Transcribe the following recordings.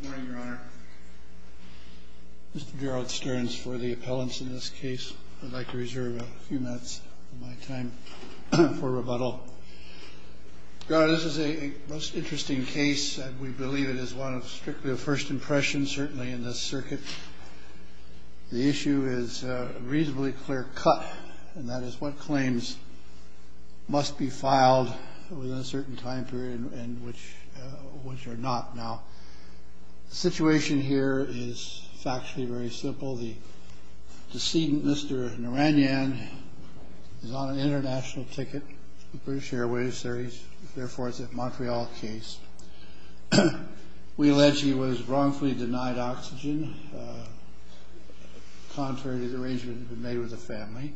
Good morning, Your Honor. Mr. Gerald Stearns for the appellants in this case. I'd like to reserve a few minutes of my time for rebuttal. Your Honor, this is a most interesting case and we believe it is one of strictly a first impression, certainly in this circuit. The issue is a reasonably clear cut and that is what claims must be filed within a certain time period and which are not. Now, the situation here is factually very simple. The decedent, Mr. Narayanan, is on an international ticket, British Airways, therefore it's a Montreal case. We allege he was wrongfully denied oxygen, contrary to the arrangement that had been made with the family.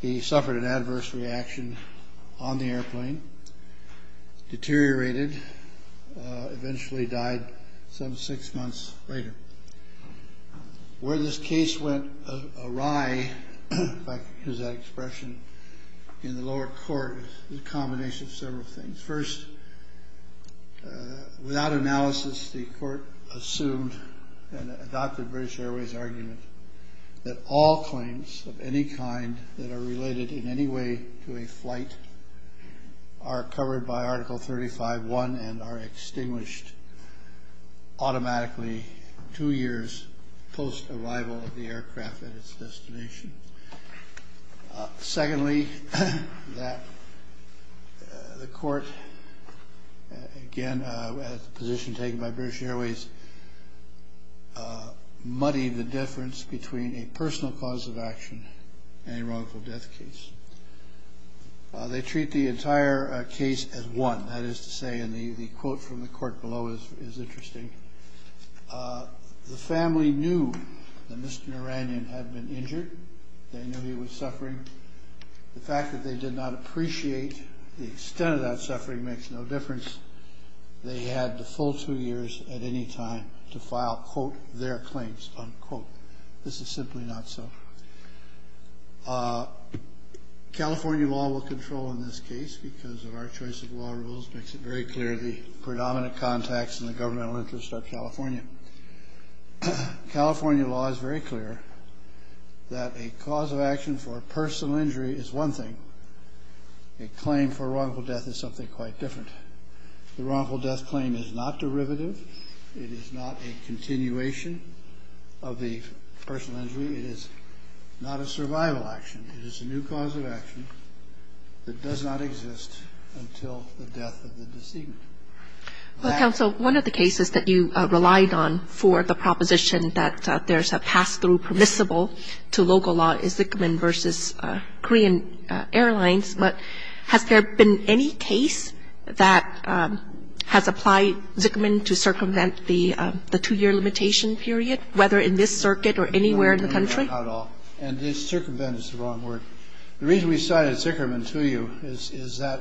He suffered an adverse reaction on the airplane, deteriorated, eventually died some six months later. Where this case went awry, if I can use that expression, in the lower court is a combination of several things. First, without analysis, the court assumed and adopted British Airways' argument that all claims of any kind that are related in any way to a flight are covered by Article 35.1 and are extinguished automatically two years post-arrival of the aircraft at its destination. Secondly, that the court, again at the position taken by British Airways, muddied the difference between a personal cause of action and a wrongful death case. They treat the entire case as one, that is to say, and the quote from the court below is interesting, the family knew that Mr. Narayanan had been injured, they knew he was suffering. The fact that they did not appreciate the extent of that suffering makes no difference. They had the full two years at any time to file, quote, their claims, unquote. This is simply not so. California law will control in this case because of our choice of law rules makes it very clear the predominant contacts in the governmental interest of California. California law is very clear that a cause of action for a personal injury is one thing. A claim for wrongful death is something quite different. The wrongful death claim is not derivative. It is not a continuation of the personal injury. It is not a survival action. It is a new cause of action that does not exist until the death of the decedent. Kagan. Well, counsel, one of the cases that you relied on for the proposition that there's a pass-through permissible to local law is Zickman v. Korean Airlines. But has there been any case that has applied Zickman to circumvent the two-year limitation period, whether in this circuit or anywhere in the country? Not at all. And circumvent is the wrong word. The reason we cited Zickerman to you is that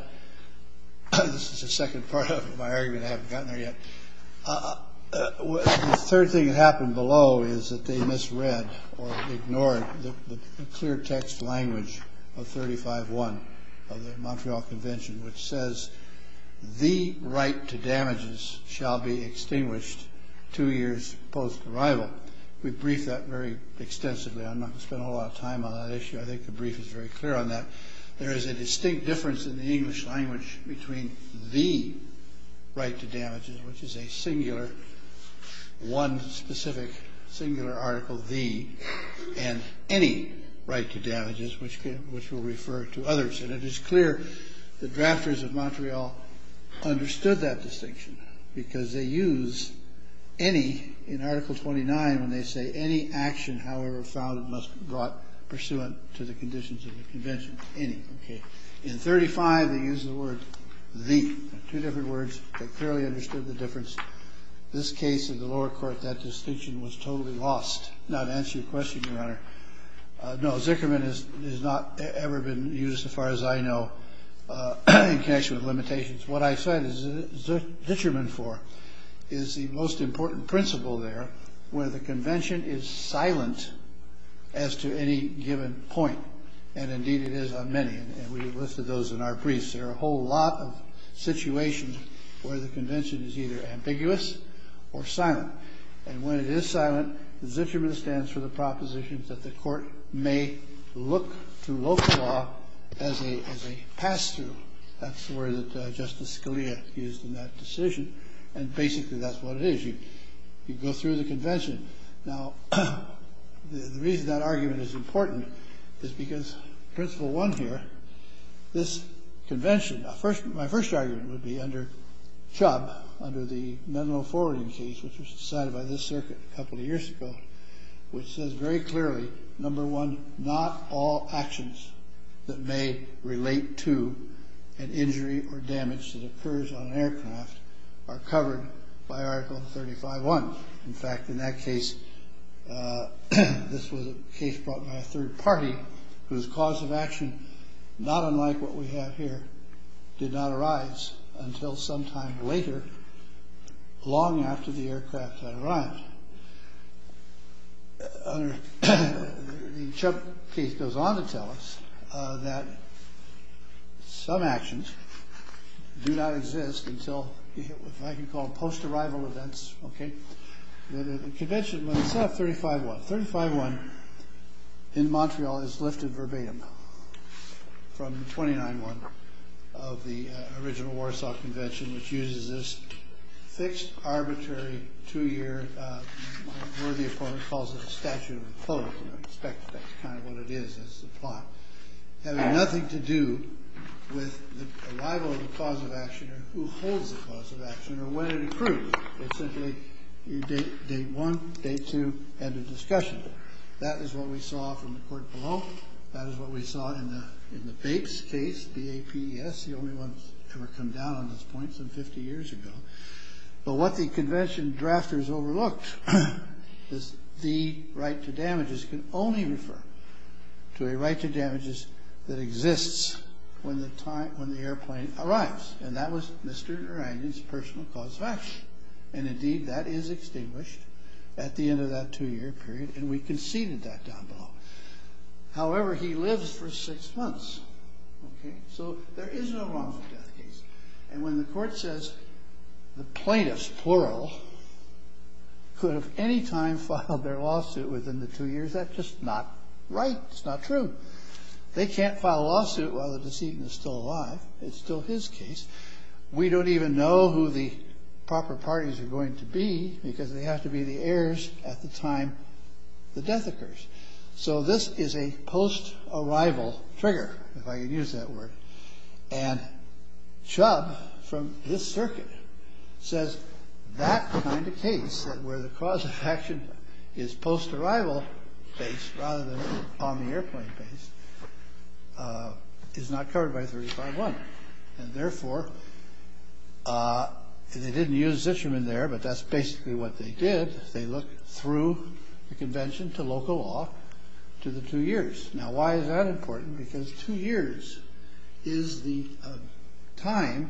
this is the second part of my argument. I haven't gotten there yet. The third thing that happened below is that they misread or ignored the clear text language of 35-1 of the Montreal Convention, which says the right to damages shall be extinguished two years post-arrival. We briefed that very extensively. I'm not going to spend a whole lot of time on that issue. I think the brief is very clear on that. There is a distinct difference in the English language between the right to damages, which is a singular, one specific singular article, the, and any right to damages, which we'll refer to others. And it is clear the drafters of Montreal understood that distinction because they when they say any action, however founded, must be brought pursuant to the conditions of the Convention. Any. In 35, they use the word the. Two different words that clearly understood the difference. This case in the lower court, that distinction was totally lost. Not to answer your question, Your Honor. No, Zickerman has not ever been used, as far as I know, in connection with limitations. What I cite Zickerman for is the most important principle there, where the Convention is silent as to any given point. And indeed, it is on many. And we listed those in our briefs. There are a whole lot of situations where the Convention is either ambiguous or silent. And when it is silent, Zickerman stands for the proposition that the court may look to local law as a pass-through. That's the word that Justice Scalia used in that decision. And basically, that's what it is. You go through the Convention. Now, the reason that argument is important is because principle one here, this Convention. My first argument would be under Chubb, under the Menlo forwarding case, which was decided by this circuit a couple of years ago, which says very clearly, number one, not all actions that may relate to an injury or damage that occurs on an aircraft are covered by Article 35-1. In fact, in that case, this was a case brought by a third party whose cause of action, not unlike what we have here, did not arise until some time later, long after the aircraft had arrived. The Chubb case goes on to tell us that some actions do not exist until, if I can call them post-arrival events. The Convention itself, 35-1. 35-1 in Montreal is lifted verbatim from 29-1 of the original Warsaw Convention, which uses this fixed, arbitrary, two-year, worthy of what one calls a statute of the closed. I expect that's kind of what it is, is the plot, having nothing to do with the arrival of the cause of action or who holds the cause of action or when it occurred. It's simply date one, date two, end of discussion. That is what we saw from the court below. That is what we saw in the Bates case, B-A-P-E-S. That's the only one that's ever come down on this point, some 50 years ago. But what the Convention drafters overlooked is the right to damages can only refer to a right to damages that exists when the airplane arrives. And that was Mr. Narangi's personal cause of action. And indeed, that is extinguished at the end of that two-year period, and we conceded that down below. However, he lives for six months. So there is no wrongful death case. And when the court says the plaintiffs, plural, could have any time filed their lawsuit within the two years, that's just not right. It's not true. They can't file a lawsuit while the decedent is still alive. It's still his case. We don't even know who the proper parties are going to be because they have to be the heirs at the time the death occurs. So this is a post-arrival trigger, if I can use that word. And Chubb, from this circuit, says that kind of case, where the cause of action is post-arrival based rather than on the airplane base, is not covered by 35-1. And therefore, they didn't use Zicherman there, but that's basically what they did. They looked through the convention to local law to the two years. Now, why is that important? Because two years is the time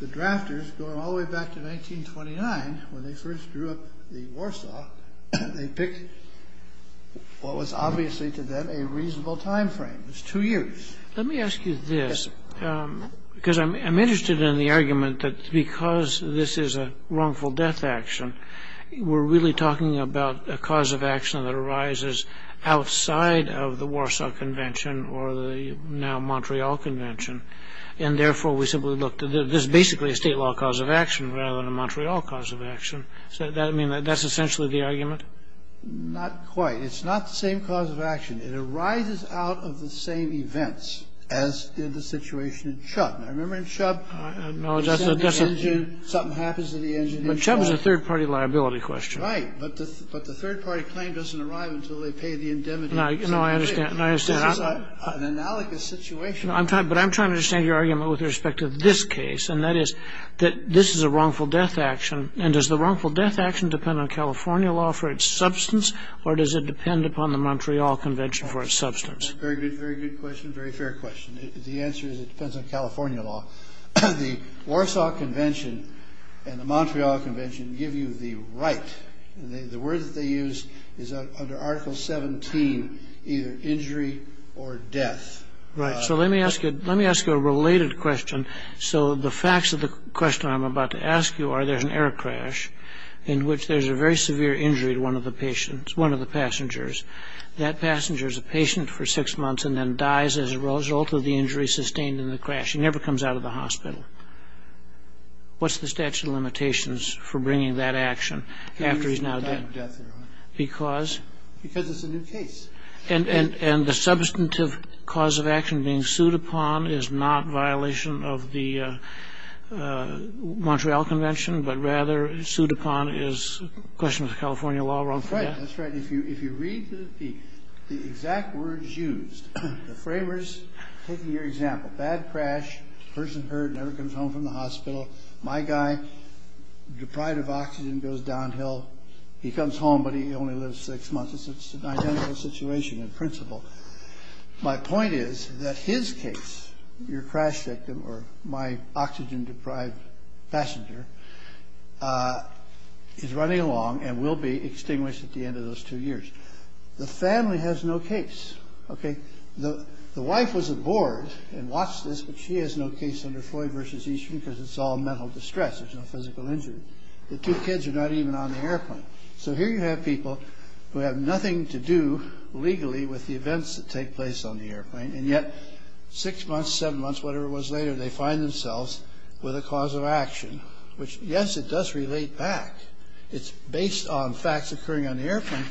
the drafters, going all the way back to 1929, when they first drew up the Warsaw, they picked what was obviously to them a reasonable time frame. It was two years. Let me ask you this, because I'm interested in the argument that because this is a wrongful death action, we're really talking about a cause of action that arises outside of the Warsaw Convention or the now Montreal Convention. And therefore, we simply looked at this as basically a state law cause of action rather than a Montreal cause of action. Does that mean that that's essentially the argument? Not quite. It's not the same cause of action. It arises out of the same events as did the situation in Chubb. Now, remember in Chubb, something happens to the engine. But Chubb is a third-party liability question. Right. But the third-party claim doesn't arrive until they pay the indemnity. No, I understand. This is an analogous situation. But I'm trying to understand your argument with respect to this case, and that is that this is a wrongful death action. And does the wrongful death action depend on California law for its substance, or does it depend upon the Montreal Convention for its substance? Very good question. Very fair question. The answer is it depends on California law. The Warsaw Convention and the Montreal Convention give you the right. The word that they use is under Article 17, either injury or death. Right. So let me ask you a related question. So the facts of the question I'm about to ask you are there's an air crash in which there's a very severe injury to one of the passengers. That passenger is a patient for six months and then dies as a result of the injury sustained in the crash. He never comes out of the hospital. What's the statute of limitations for bringing that action after he's now dead? Because it's a new case. And the substantive cause of action being sued upon is not violation of the Montreal Convention, but rather sued upon is a question of the California law wrongful death? That's right. If you read the exact words used, the framers, taking your example, bad crash, person hurt, never comes home from the hospital, my guy, deprived of oxygen, goes downhill. He comes home, but he only lives six months. It's an identical situation in principle. My point is that his case, your crash victim or my oxygen-deprived passenger, is running along and will be extinguished at the end of those two years. The family has no case. Okay. The wife was aboard and watched this, but she has no case under Floyd v. Eastman because it's all mental distress. There's no physical injury. The two kids are not even on the airplane. So here you have people who have nothing to do legally with the events that take place on the airplane, and yet six months, seven months, whatever it was later, they find themselves with a cause of action, which, yes, it does relate back. It's based on facts occurring on the airplane,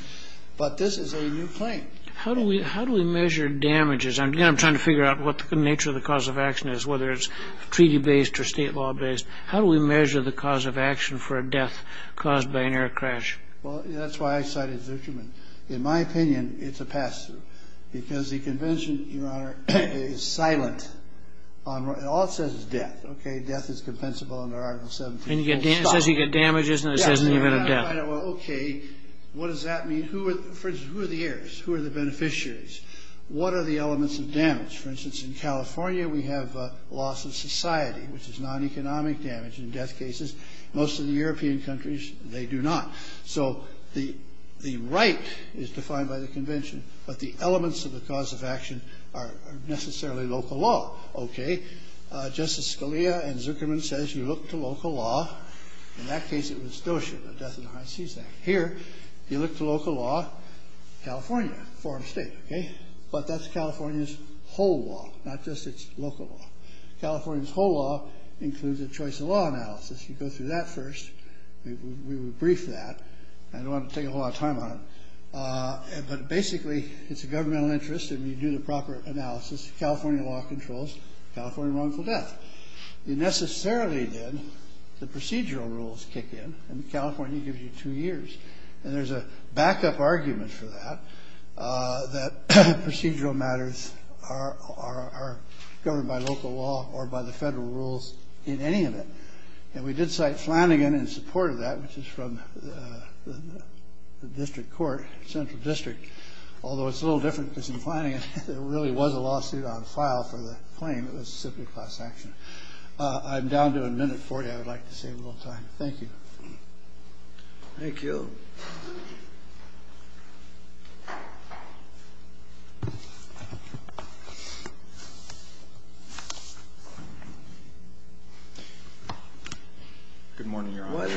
but this is a new plane. How do we measure damages? Again, I'm trying to figure out what the nature of the cause of action is, whether it's treaty-based or state law-based. How do we measure the cause of action for a death caused by an air crash? Well, that's why I cited Zuckerman. In my opinion, it's a pass-through because the convention, Your Honor, is silent. All it says is death, okay? Death is compensable under Article 17. It says you get damages, and it says an event of death. Okay. What does that mean? For instance, who are the heirs? Who are the beneficiaries? What are the elements of damage? For instance, in California, we have loss of society, which is non-economic damage in death cases. Most of the European countries, they do not. So the right is defined by the convention, but the elements of the cause of action are necessarily local law. Okay. Justice Scalia and Zuckerman says you look to local law. In that case, it was DOCIA, the Death in the High Seas Act. Here, you look to local law, California, a foreign state, okay? But that's California's whole law, not just its local law. California's whole law includes a choice of law analysis. You go through that first. We will brief that. I don't want to take a whole lot of time on it. But basically, it's a governmental interest, and you do the proper analysis. California law controls California wrongful death. You necessarily then, the procedural rules kick in, and California gives you two years. And there's a backup argument for that, that procedural matters are governed by local law or by the federal rules in any of it. And we did cite Flanagan in support of that, which is from the district court, central district, although it's a little different because in Flanagan, there really was a lawsuit on file for the claim. It was simply class action. I'm down to a minute 40. I would like to save a little time. Thank you. Thank you. Good morning, Your Honor.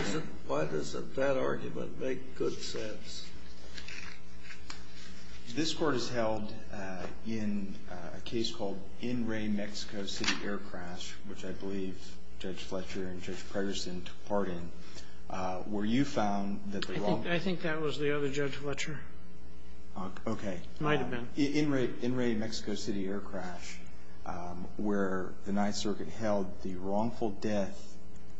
Why does that argument make good sense? This Court has held in a case called In Re Mexico City Air Crash, which I believe Judge Fletcher and Judge Preterson took part in, where you found that the wrongful death. I think that was the other Judge Fletcher. Okay. It might have been. In Re Mexico City Air Crash, where the Ninth Circuit held the wrongful death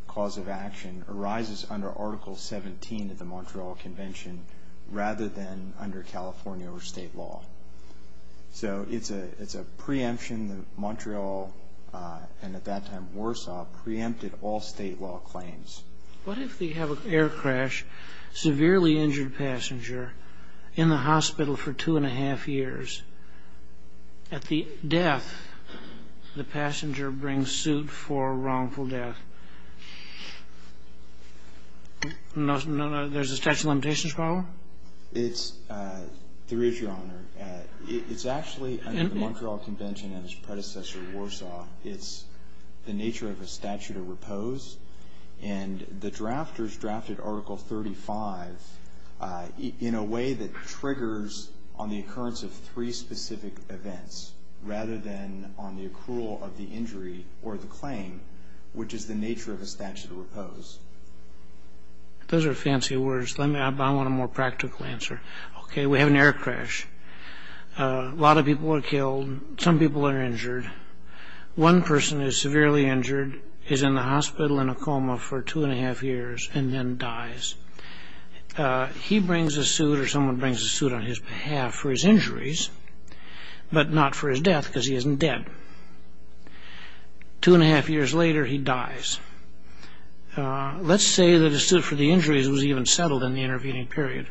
cause of action arises under Article 17 of the Montreal Convention rather than under California or state law. So it's a preemption that Montreal, and at that time Warsaw, preempted all state law claims. What if they have an air crash, severely injured passenger, in the hospital for two and a half years? At the death, the passenger brings suit for wrongful death. There's a statute of limitations problem? There is, Your Honor. It's actually under the Montreal Convention and its predecessor, Warsaw. It's the nature of a statute of repose. And the drafters drafted Article 35 in a way that triggers on the occurrence of three specific events, rather than on the accrual of the injury or the claim, which is the nature of a statute of repose. Those are fancy words. I want a more practical answer. Okay. We have an air crash. A lot of people are killed. Some people are injured. One person is severely injured, is in the hospital in a coma for two and a half years, and then dies. He brings a suit or someone brings a suit on his behalf for his injuries, but not for his death because he isn't dead. Two and a half years later, he dies. Let's say that a suit for the injuries was even settled in the intervening period.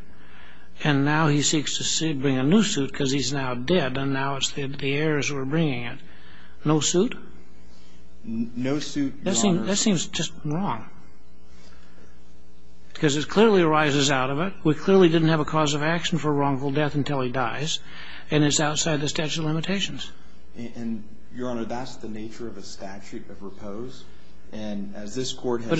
And now he seeks to bring a new suit because he's now dead, and now it's the heirs who are bringing it. No suit? No suit, Your Honor. That seems just wrong because it clearly arises out of it. We clearly didn't have a cause of action for a wrongful death until he dies, and it's outside the statute of limitations. And, Your Honor, that's the nature of a statute of repose. And as this Court has said— But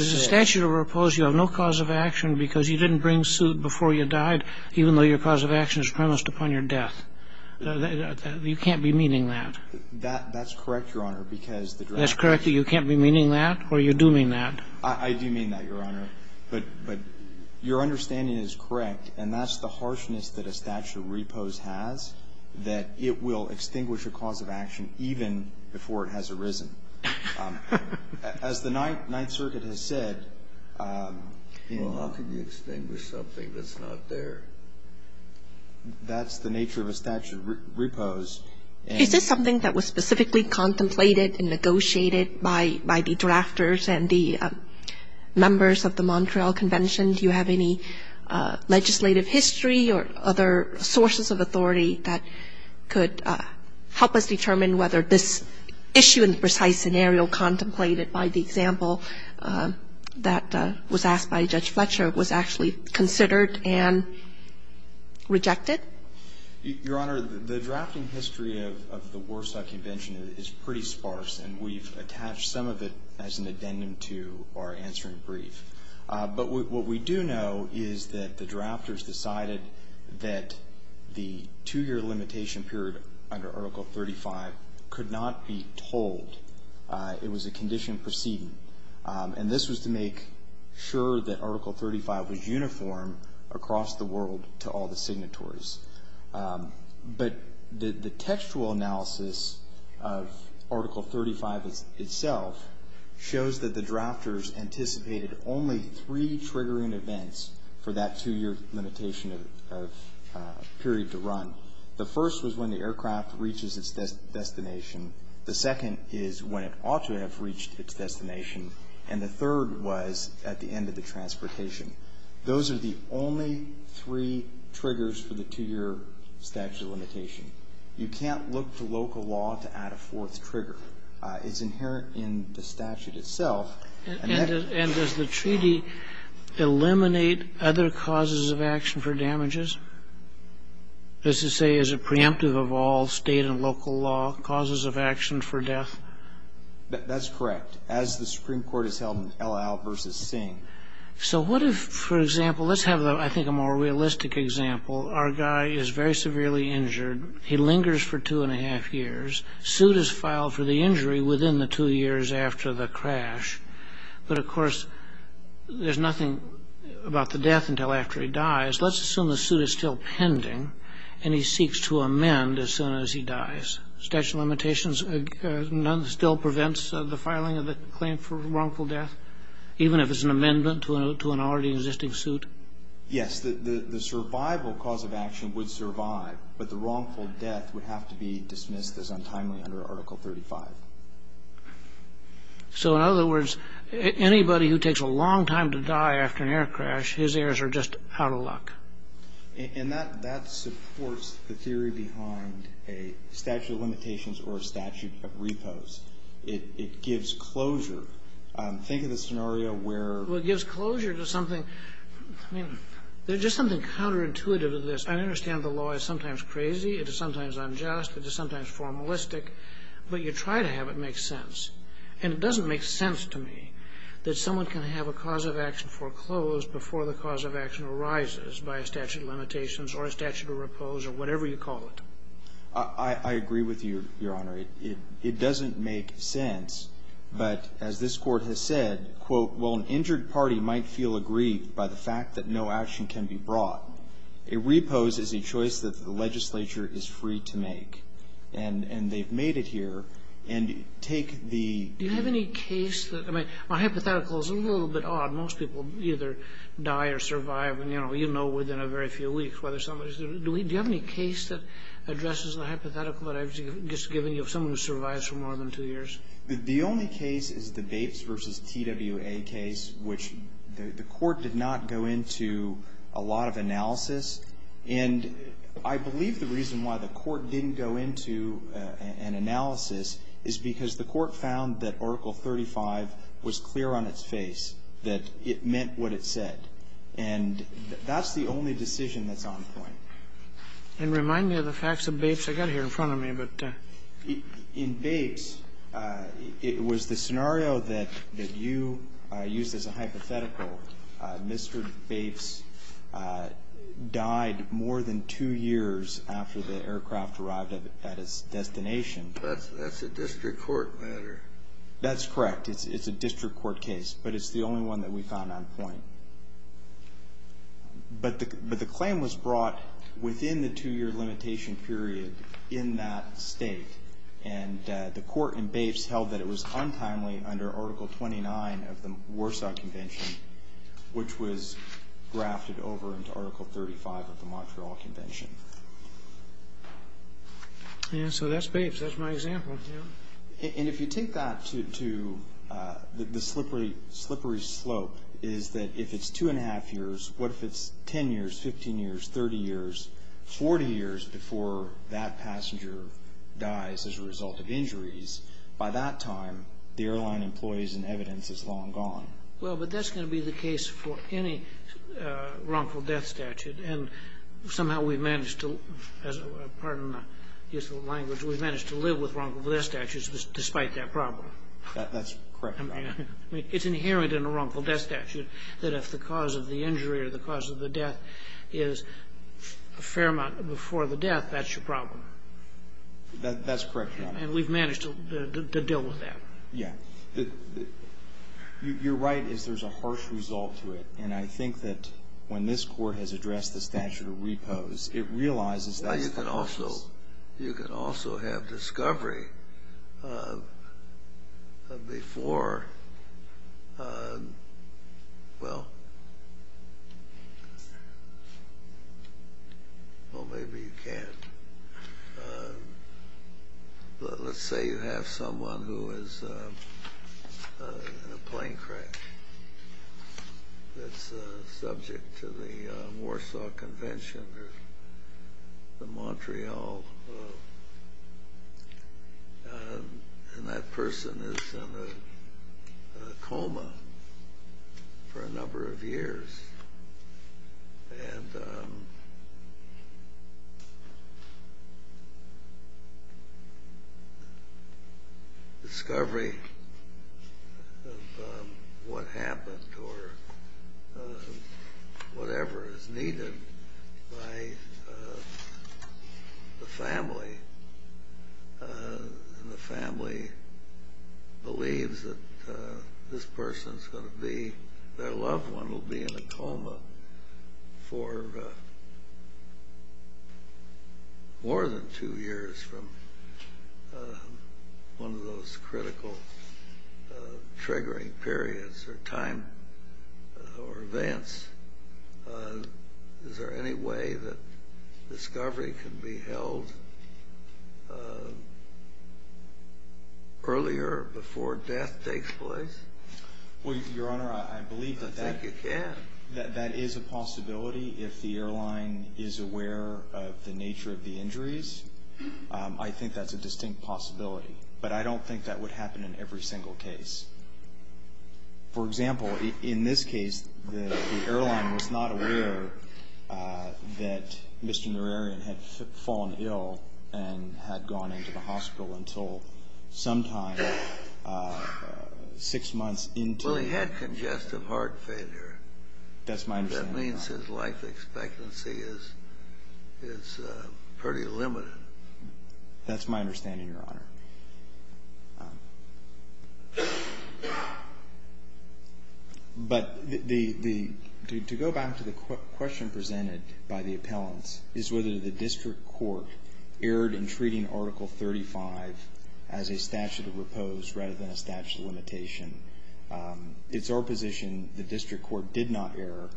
you can't be meaning that. That's correct, Your Honor, because the draft— That's correct that you can't be meaning that or you do mean that. I do mean that, Your Honor. But your understanding is correct, and that's the harshness that a statute of repose has, that it will extinguish a cause of action even before it has arisen. As the Ninth Circuit has said— Well, how can you extinguish something that's not dead? That's the nature of a statute of repose. Is this something that was specifically contemplated and negotiated by the drafters and the members of the Montreal Convention? Do you have any legislative history or other sources of authority that could help us determine whether this issue in the precise scenario contemplated by the example that was asked by Judge Fletcher was actually considered and rejected? Your Honor, the drafting history of the Warsaw Convention is pretty sparse, and we've attached some of it as an addendum to our answering brief. But what we do know is that the drafters decided that the two-year limitation period under Article 35 could not be told. It was a condition proceeding, and this was to make sure that Article 35 was uniform across the world to all the signatories. But the textual analysis of Article 35 itself shows that the drafters anticipated only three triggering events for that two-year limitation period to run. The first was when the aircraft reaches its destination. The second is when it ought to have reached its destination. And the third was at the end of the transportation. Those are the only three triggers for the two-year statute of limitation. You can't look to local law to add a fourth trigger. It's inherent in the statute itself. And does the treaty eliminate other causes of action for damages? That is to say, is it preemptive of all state and local law causes of action for death? That's correct. As the Supreme Court has held in El Al versus Singh. So what if, for example, let's have, I think, a more realistic example. Our guy is very severely injured. He lingers for two and a half years. A suit is filed for the injury within the two years after the crash. Let's assume the suit is still pending and he seeks to amend as soon as he dies. Statute of limitations still prevents the filing of the claim for wrongful death? Even if it's an amendment to an already existing suit? Yes. The survival cause of action would survive, but the wrongful death would have to be dismissed as untimely under Article 35. So in other words, anybody who takes a long time to die after an air crash, his errors are just out of luck. And that supports the theory behind a statute of limitations or a statute of repose. It gives closure. Think of the scenario where... Well, it gives closure to something. I mean, there's just something counterintuitive to this. I understand the law is sometimes crazy. It is sometimes unjust. It is sometimes formalistic. But you try to have it make sense. And it doesn't make sense to me that someone can have a cause of action foreclosed before the cause of action arises by a statute of limitations or a statute of repose or whatever you call it. I agree with you, Your Honor. It doesn't make sense. But as this Court has said, quote, while an injured party might feel aggrieved by the fact that no action can be brought, a repose is a choice that the legislature is free to make. And they've made it here. And take the... Do you have any case that... I mean, my hypothetical is a little bit odd. Most people either die or survive, and, you know, you know within a very few weeks whether somebody's... Do you have any case that addresses the hypothetical that I've just given you of someone who survives for more than two years? The only case is the Bates v. TWA case, which the Court did not go into a lot of analysis. And I believe the reason why the Court didn't go into an analysis is because the Court found that Article 35 was clear on its face, that it meant what it said. And that's the only decision that's on point. And remind me of the facts of Bates. I've got it here in front of me, but... In Bates, it was the scenario that you used as a hypothetical, Mr. Bates died more than two years after the aircraft arrived at its destination. That's a district court matter. That's correct. It's a district court case. But it's the only one that we found on point. But the claim was brought within the two-year limitation period in that state. And the Court in Bates held that it was untimely under Article 29 of the Warsaw Convention, which was grafted over into Article 35 of the Montreal Convention. So that's Bates. That's my example. And if you take that to the slippery slope, is that if it's two and a half years, what if it's 10 years, 15 years, 30 years, 40 years before that passenger dies as a result of injuries? By that time, the airline employees and evidence is long gone. Well, but that's going to be the case for any wrongful death statute. And somehow we've managed to, as a part of my useful language, we've managed to live with wrongful death statutes despite that problem. That's correct, Your Honor. I mean, it's inherent in a wrongful death statute that if the cause of the injury or the cause of the death is a fair amount before the death, that's your problem. That's correct, Your Honor. And we've managed to deal with that. Yeah. You're right as there's a harsh result to it. And I think that when this Court has addressed the statute of repose, it realizes that's the cause. Well, you can also have discovery of before. Well, maybe you can. Let's say you have someone who is in a plane crash that's subject to the Warsaw Convention or the Montreal Law, and that person is in a coma for a number of years. And discovery of what happened or whatever is needed by the family, and the family believes that this person is going to be, their loved one will be in a coma for more than two years from one of those critical triggering periods or events. Is there any way that discovery can be held earlier before death takes place? Well, Your Honor, I believe that that is a possibility. If the airline is aware of the nature of the injuries, I think that's a distinct possibility. But I don't think that would happen in every single case. For example, in this case, the airline was not aware that Mr. Norarian had fallen ill and had gone into the hospital until sometime six months into his life. Well, he had congestive heart failure. That's my understanding, Your Honor. That means his life expectancy is pretty limited. That's my understanding, Your Honor. But to go back to the question presented by the appellants is whether the district court erred in treating Article 35 as a statute of repose rather than a statute of limitation. It's our position the district court did not err.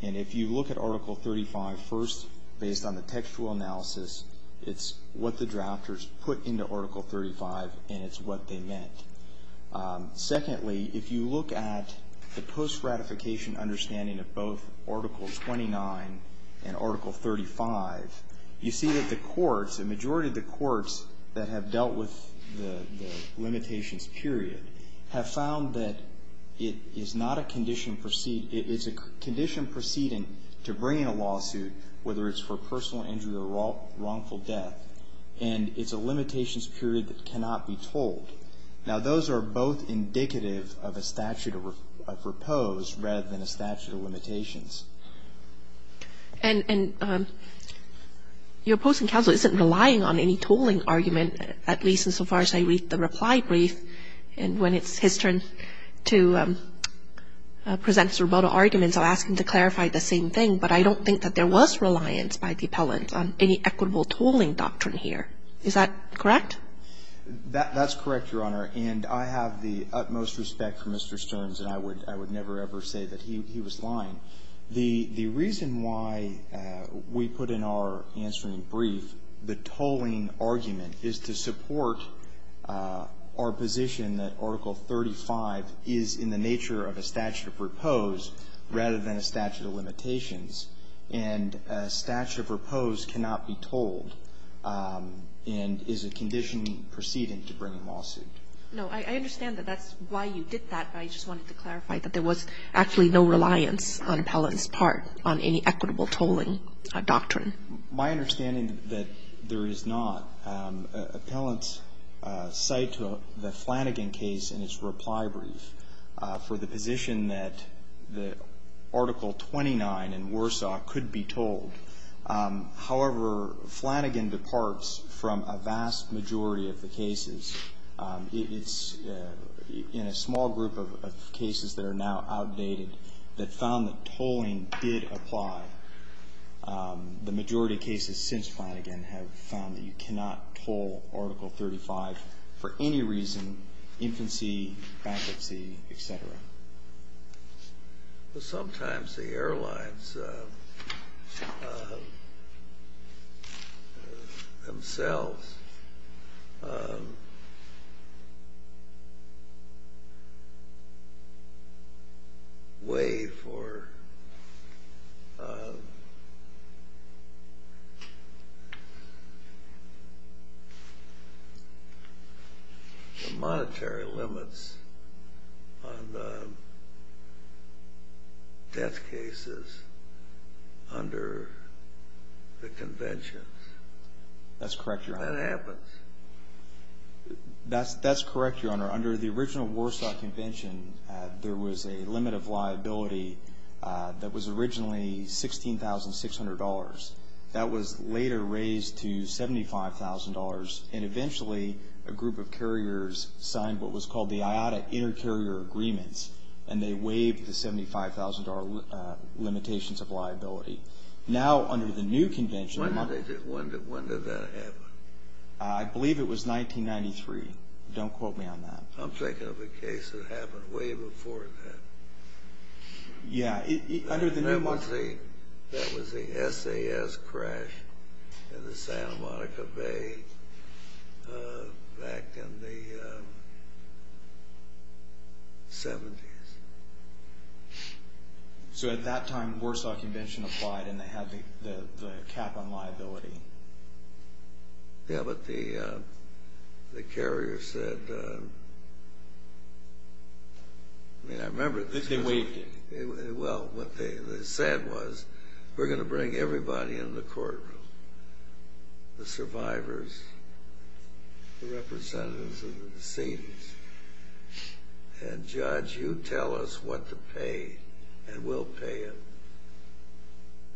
And if you look at Article 35, first, based on the textual analysis, it's what the drafters put into Article 35, and it's what they meant. Secondly, if you look at the post-ratification understanding of both Article 29 and Article 35, you see that the courts, the majority of the courts that have dealt with the limitations period, have found that it's a condition proceeding to bring in a lawsuit, whether it's for personal injury or wrongful death, and it's a limitations period that cannot be told. Now, those are both indicative of a statute of repose rather than a statute of limitations. And your opposing counsel isn't relying on any tolling argument, at least insofar as I read the reply brief, and when it's his turn to present his rebuttal arguments, I'll ask him to clarify the same thing, but I don't think that there was reliance by the appellant on any equitable tolling doctrine here. Is that correct? That's correct, Your Honor, and I have the utmost respect for Mr. Stearns, and I would never, ever say that he was lying. The reason why we put in our answering brief the tolling argument is to support our position that Article 35 is in the nature of a statute of repose rather than a statute of limitations, and a statute of repose cannot be tolled and is a condition preceding to bring a lawsuit. No. I understand that that's why you did that, but I just wanted to clarify that there was actually no reliance on appellant's part on any equitable tolling doctrine. My understanding that there is not. Appellants cite the Flanagan case in its reply brief for the position that the Article 29 in Warsaw could be tolled. However, Flanagan departs from a vast majority of the cases. It's in a small group of cases that are now outdated that found that tolling did apply. The majority of cases since Flanagan have found that you cannot toll Article 35 for any reason, infancy, bankruptcy, et cetera. Sometimes the airlines themselves weigh for the monetary limits on the death cases under the conventions. That's correct, Your Honor. Under the original Warsaw Convention, there was a limit of liability that was originally $16,600. That was later raised to $75,000, and eventually a group of carriers signed what was called the IATA Inter-Carrier Agreements, and they waived the $75,000 limitations of liability. Now, under the new convention, When did that happen? I believe it was 1993. Don't quote me on that. I'm thinking of a case that happened way before that. Yeah, under the new... That was the SAS crash in the Santa Monica Bay back in the 70s. So at that time, the Warsaw Convention applied, and they had the cap on liability. Yeah, but the carriers said... I mean, I remember... They waived it. Well, what they said was, We're going to bring everybody in the courtroom, the survivors, the representatives of the decedents, and, Judge, you tell us what to pay, and we'll pay it.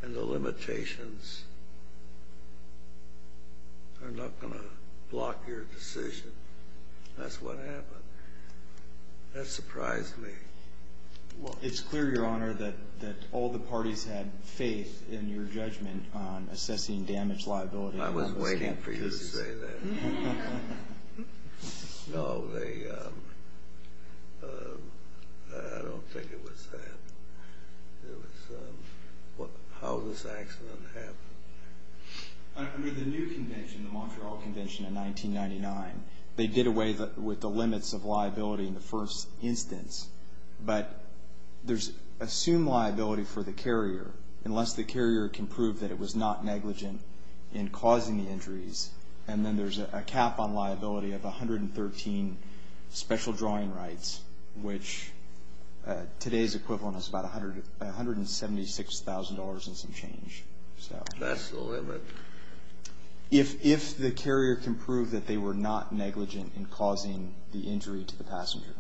And the limitations are not going to block your decision. That's what happened. That surprised me. Well, it's clear, Your Honor, that all the parties had faith in your judgment on assessing damage liability. I was waiting for you to say that. No, they... I don't think it was that. It was... How did this accident happen? Under the new convention, the Montreal Convention in 1999, they did away with the limits of liability in the first instance, but there's assumed liability for the carrier, and then there's a cap on liability of 113 special drawing rights, which today's equivalent is about $176,000 and some change. That's the limit. If the carrier can prove that they were not negligent in causing the injury to the passenger.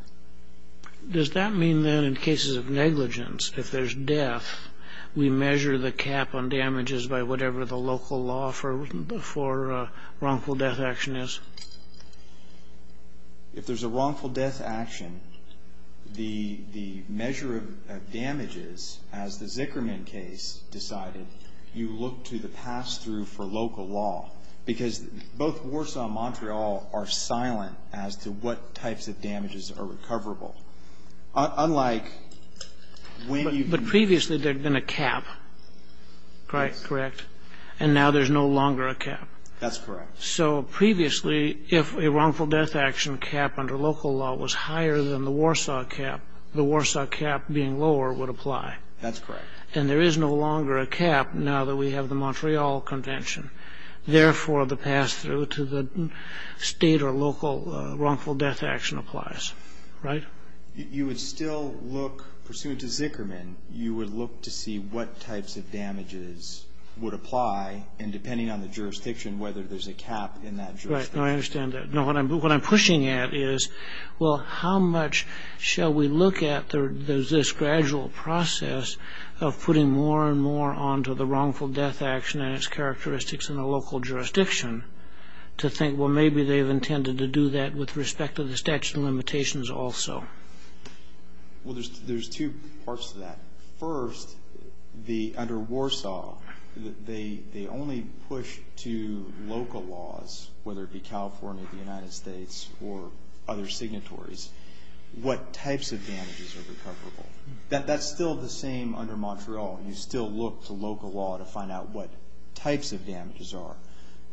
Does that mean, then, in cases of negligence, if there's death, we measure the cap on damages by whatever the local law for wrongful death action is? If there's a wrongful death action, the measure of damages, as the Zickerman case decided, you look to the pass-through for local law, because both Warsaw and Montreal are silent as to what types of damages are recoverable. Unlike when you... But previously, there'd been a cap, correct? And now there's no longer a cap. That's correct. So previously, if a wrongful death action cap under local law was higher than the Warsaw cap, the Warsaw cap being lower would apply. That's correct. And there is no longer a cap now that we have the Montreal Convention. Therefore, the pass-through to the state or local wrongful death action applies, right? You would still look, pursuant to Zickerman, you would look to see what types of damages would apply, and depending on the jurisdiction, whether there's a cap in that jurisdiction. Right. No, I understand that. No, what I'm pushing at is, well, how much shall we look at this gradual process of putting more and more onto the wrongful death action and its characteristics in a local jurisdiction, to think, well, maybe they've intended to do that with respect to the statute of limitations also. Well, there's two parts to that. First, under Warsaw, they only push to local laws, whether it be California, the United States, or other signatories, what types of damages are recoverable. That's still the same under Montreal. You still look to local law to find out what types of damages are.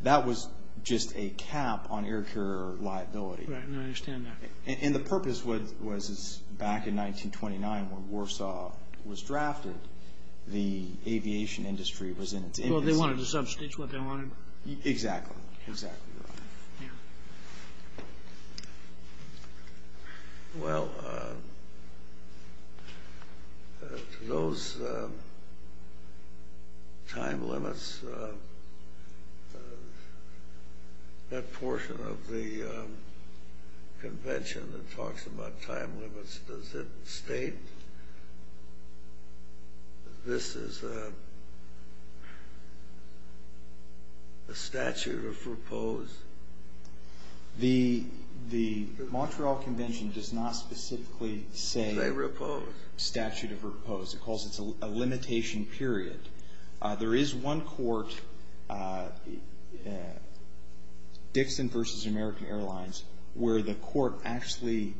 That was just a cap on air carrier liability. Right. No, I understand that. And the purpose was, back in 1929, when Warsaw was drafted, the aviation industry was in its infancy. Well, they wanted to substitute what they wanted. Exactly. Exactly right. Well, to those time limits, that portion of the convention that talks about time limits, does it state this is a statute of repose? The Montreal Convention does not specifically say statute of repose. It calls it a limitation period. There is one court, Dixon v. American Airlines, where the court actually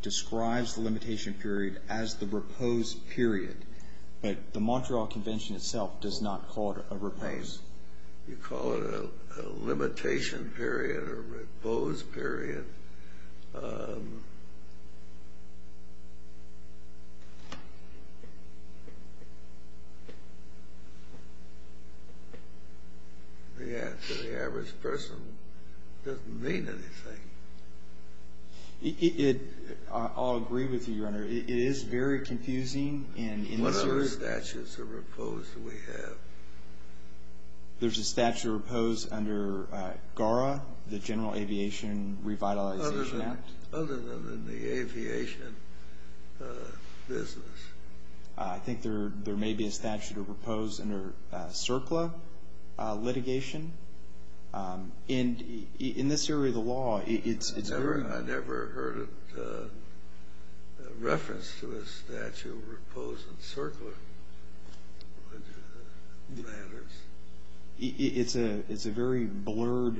describes the limitation period as the repose period. But the Montreal Convention itself does not call it a repose. You call it a limitation period or a repose period. The answer to the average person doesn't mean anything. I'll agree with you, Your Honor. It is very confusing. What other statutes of repose do we have? There's a statute of repose under GARA, the General Aviation Revitalization Act. Other than the aviation business. I think there may be a statute of repose under CERCLA litigation. In this area of the law, it's very— It's a very blurred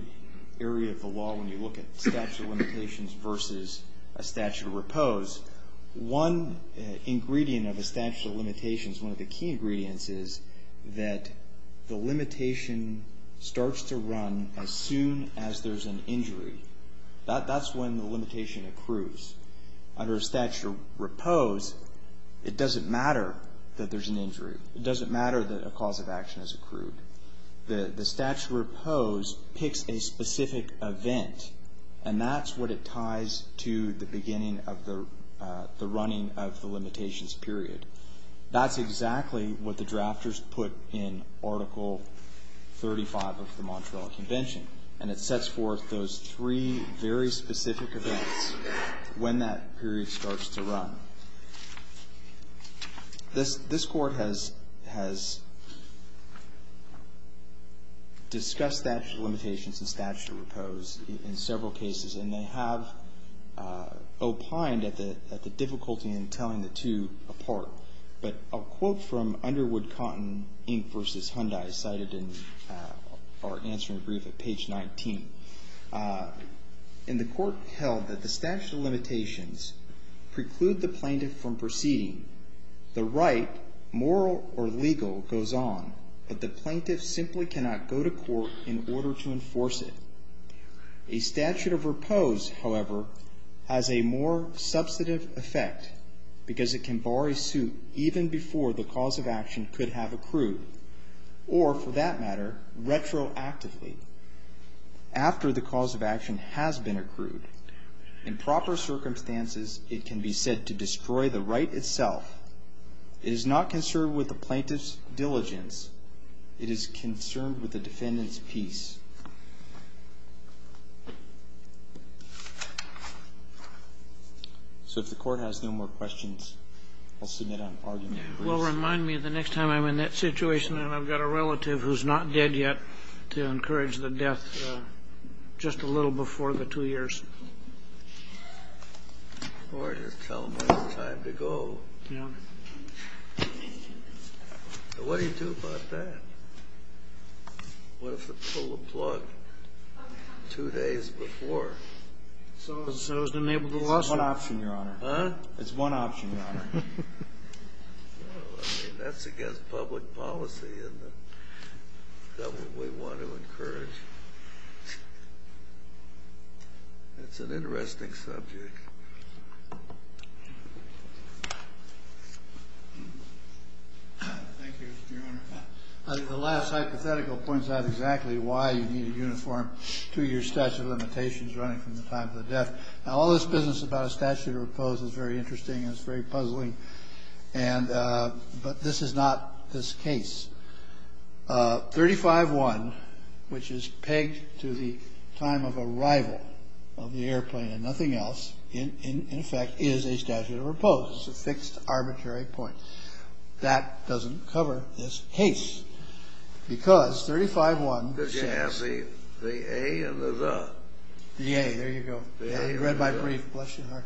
area of the law when you look at statute of limitations versus a statute of repose. One ingredient of a statute of limitations, one of the key ingredients, is that the limitation starts to run as soon as there's an injury. That's when the limitation accrues. Under a statute of repose, it doesn't matter that there's an injury. It doesn't matter that a cause of action is accrued. The statute of repose picks a specific event, and that's what it ties to the beginning of the running of the limitations period. That's exactly what the drafters put in Article 35 of the Montreal Convention, and it sets forth those three very specific events when that period starts to run. This Court has discussed statute of limitations and statute of repose in several cases, and they have opined at the difficulty in telling the two apart. But a quote from Underwood Cotton, Inc. v. Hyundai, cited in our answering brief at page 19. The Court held that the statute of limitations preclude the plaintiff from proceeding. The right, moral or legal, goes on, but the plaintiff simply cannot go to court in order to enforce it. A statute of repose, however, has a more substantive effect because it can bar a suit even before the cause of action could have accrued, or, for that matter, retroactively. After the cause of action has been accrued, in proper circumstances it can be said to destroy the right itself. It is not concerned with the plaintiff's diligence. It is concerned with the defendant's peace. So if the Court has no more questions, I'll submit an argument. Well, remind me the next time I'm in that situation and I've got a relative who's not dead yet to encourage the death just a little before the two years. Or just tell them when it's time to go. Yeah. What do you do about that? What if they pull the plug two days before? It's one option, Your Honor. Huh? It's one option, Your Honor. That's against public policy, and that's what we want to encourage. That's an interesting subject. Thank you, Your Honor. I think the last hypothetical points out exactly why you need a uniform two-year statute of limitations running from the time of the death. Now, all this business about a statute of repose is very interesting and it's very puzzling, but this is not this case. 35-1, which is pegged to the time of arrival of the airplane and nothing else, in effect, is a statute of repose. It's a fixed arbitrary point. That doesn't cover this case because 35-1 says the statute of repose. The A or the the? The A. There you go. You read my brief. Bless your heart.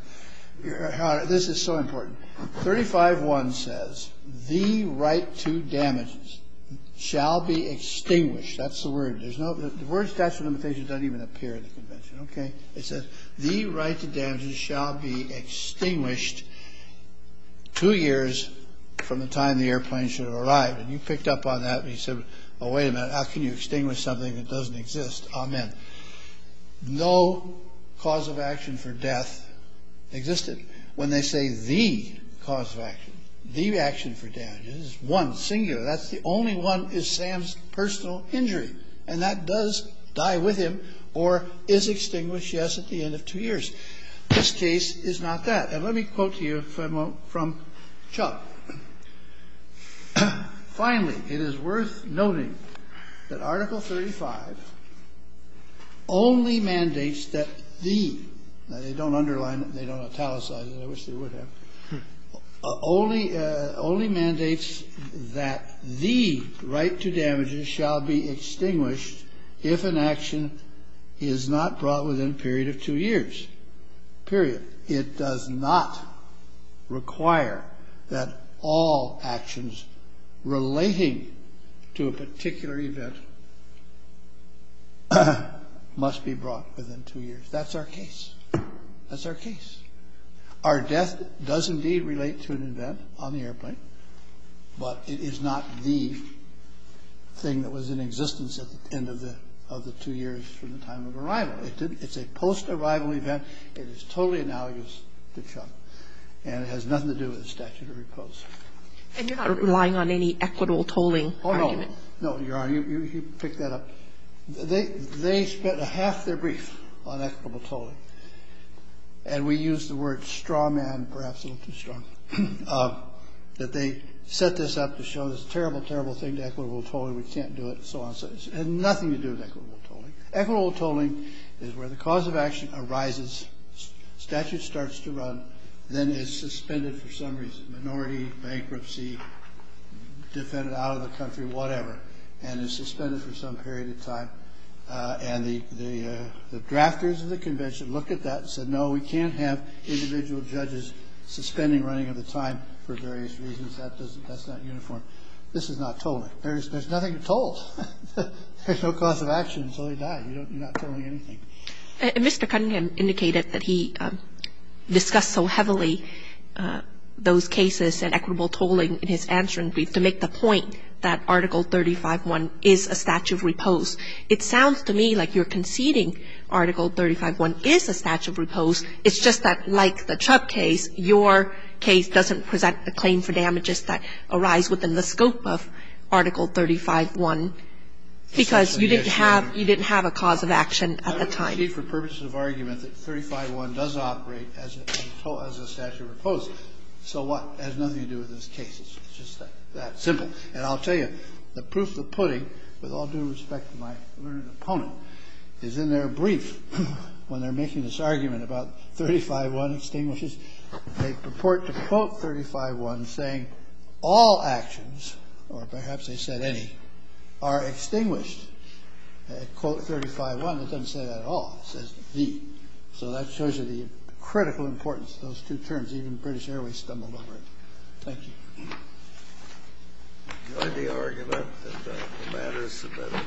Your Honor, this is so important. 35-1 says the right to damages shall be extinguished. That's the word. The word statute of limitations doesn't even appear in the convention, okay? It says the right to damages shall be extinguished two years from the time the airplane should have arrived. And you picked up on that when you said, oh, wait a minute. How can you extinguish something that doesn't exist? Amen. No cause of action for death existed. When they say the cause of action, the action for damages, one singular, that's the only one is Sam's personal injury, and that does die with him or is extinguished, yes, at the end of two years. This case is not that. Let me quote to you from Chuck. Finally, it is worth noting that Article 35 only mandates that the, they don't underline it, they don't italicize it, I wish they would have, only mandates that the right to damages shall be extinguished if an action is not brought within a period of two years, period. It does not require that all actions relating to a particular event must be brought within two years. That's our case. That's our case. Our death does indeed relate to an event on the airplane, but it is not the thing that was in existence at the end of the two years from the time of arrival. It's a post-arrival event. It is totally analogous to Chuck, and it has nothing to do with the statute of repose. And you're not relying on any equitable tolling argument? Oh, no. No, Your Honor, you picked that up. They spent half their brief on equitable tolling, and we use the word straw man, perhaps a little too strong, that they set this up to show this terrible, terrible thing to equitable tolling, we can't do it, and so on and so forth. It has nothing to do with equitable tolling. Equitable tolling is where the cause of action arises, statute starts to run, then is suspended for some reason, minority, bankruptcy, defended out of the country, whatever, and is suspended for some period of time. And the drafters of the convention looked at that and said, no, we can't have individual judges suspending running of the time for various reasons. That's not uniform. This is not tolling. There's nothing to toll. There's no cause of action until they die. You're not tolling anything. Mr. Cunningham indicated that he discussed so heavily those cases and equitable tolling in his answering brief to make the point that Article 35-1 is a statute of repose. It sounds to me like you're conceding Article 35-1 is a statute of repose. It's just that, like the Chubb case, your case doesn't present a claim for damages that arise within the scope of Article 35-1 because you didn't have a cause of action at the time. I don't concede for purposes of argument that 35-1 does operate as a statute of repose. So what? It has nothing to do with those cases. It's just that simple. And I'll tell you, the proof of putting, with all due respect to my learned opponent, is in their brief when they're making this argument about 35-1 extinguishes they purport to quote 35-1 saying, all actions, or perhaps they said any, are extinguished. At quote 35-1 it doesn't say that at all. It says, the. So that shows you the critical importance of those two terms. Even British Airways stumbled over it. Thank you. Enjoy the argument that the matter is submitted.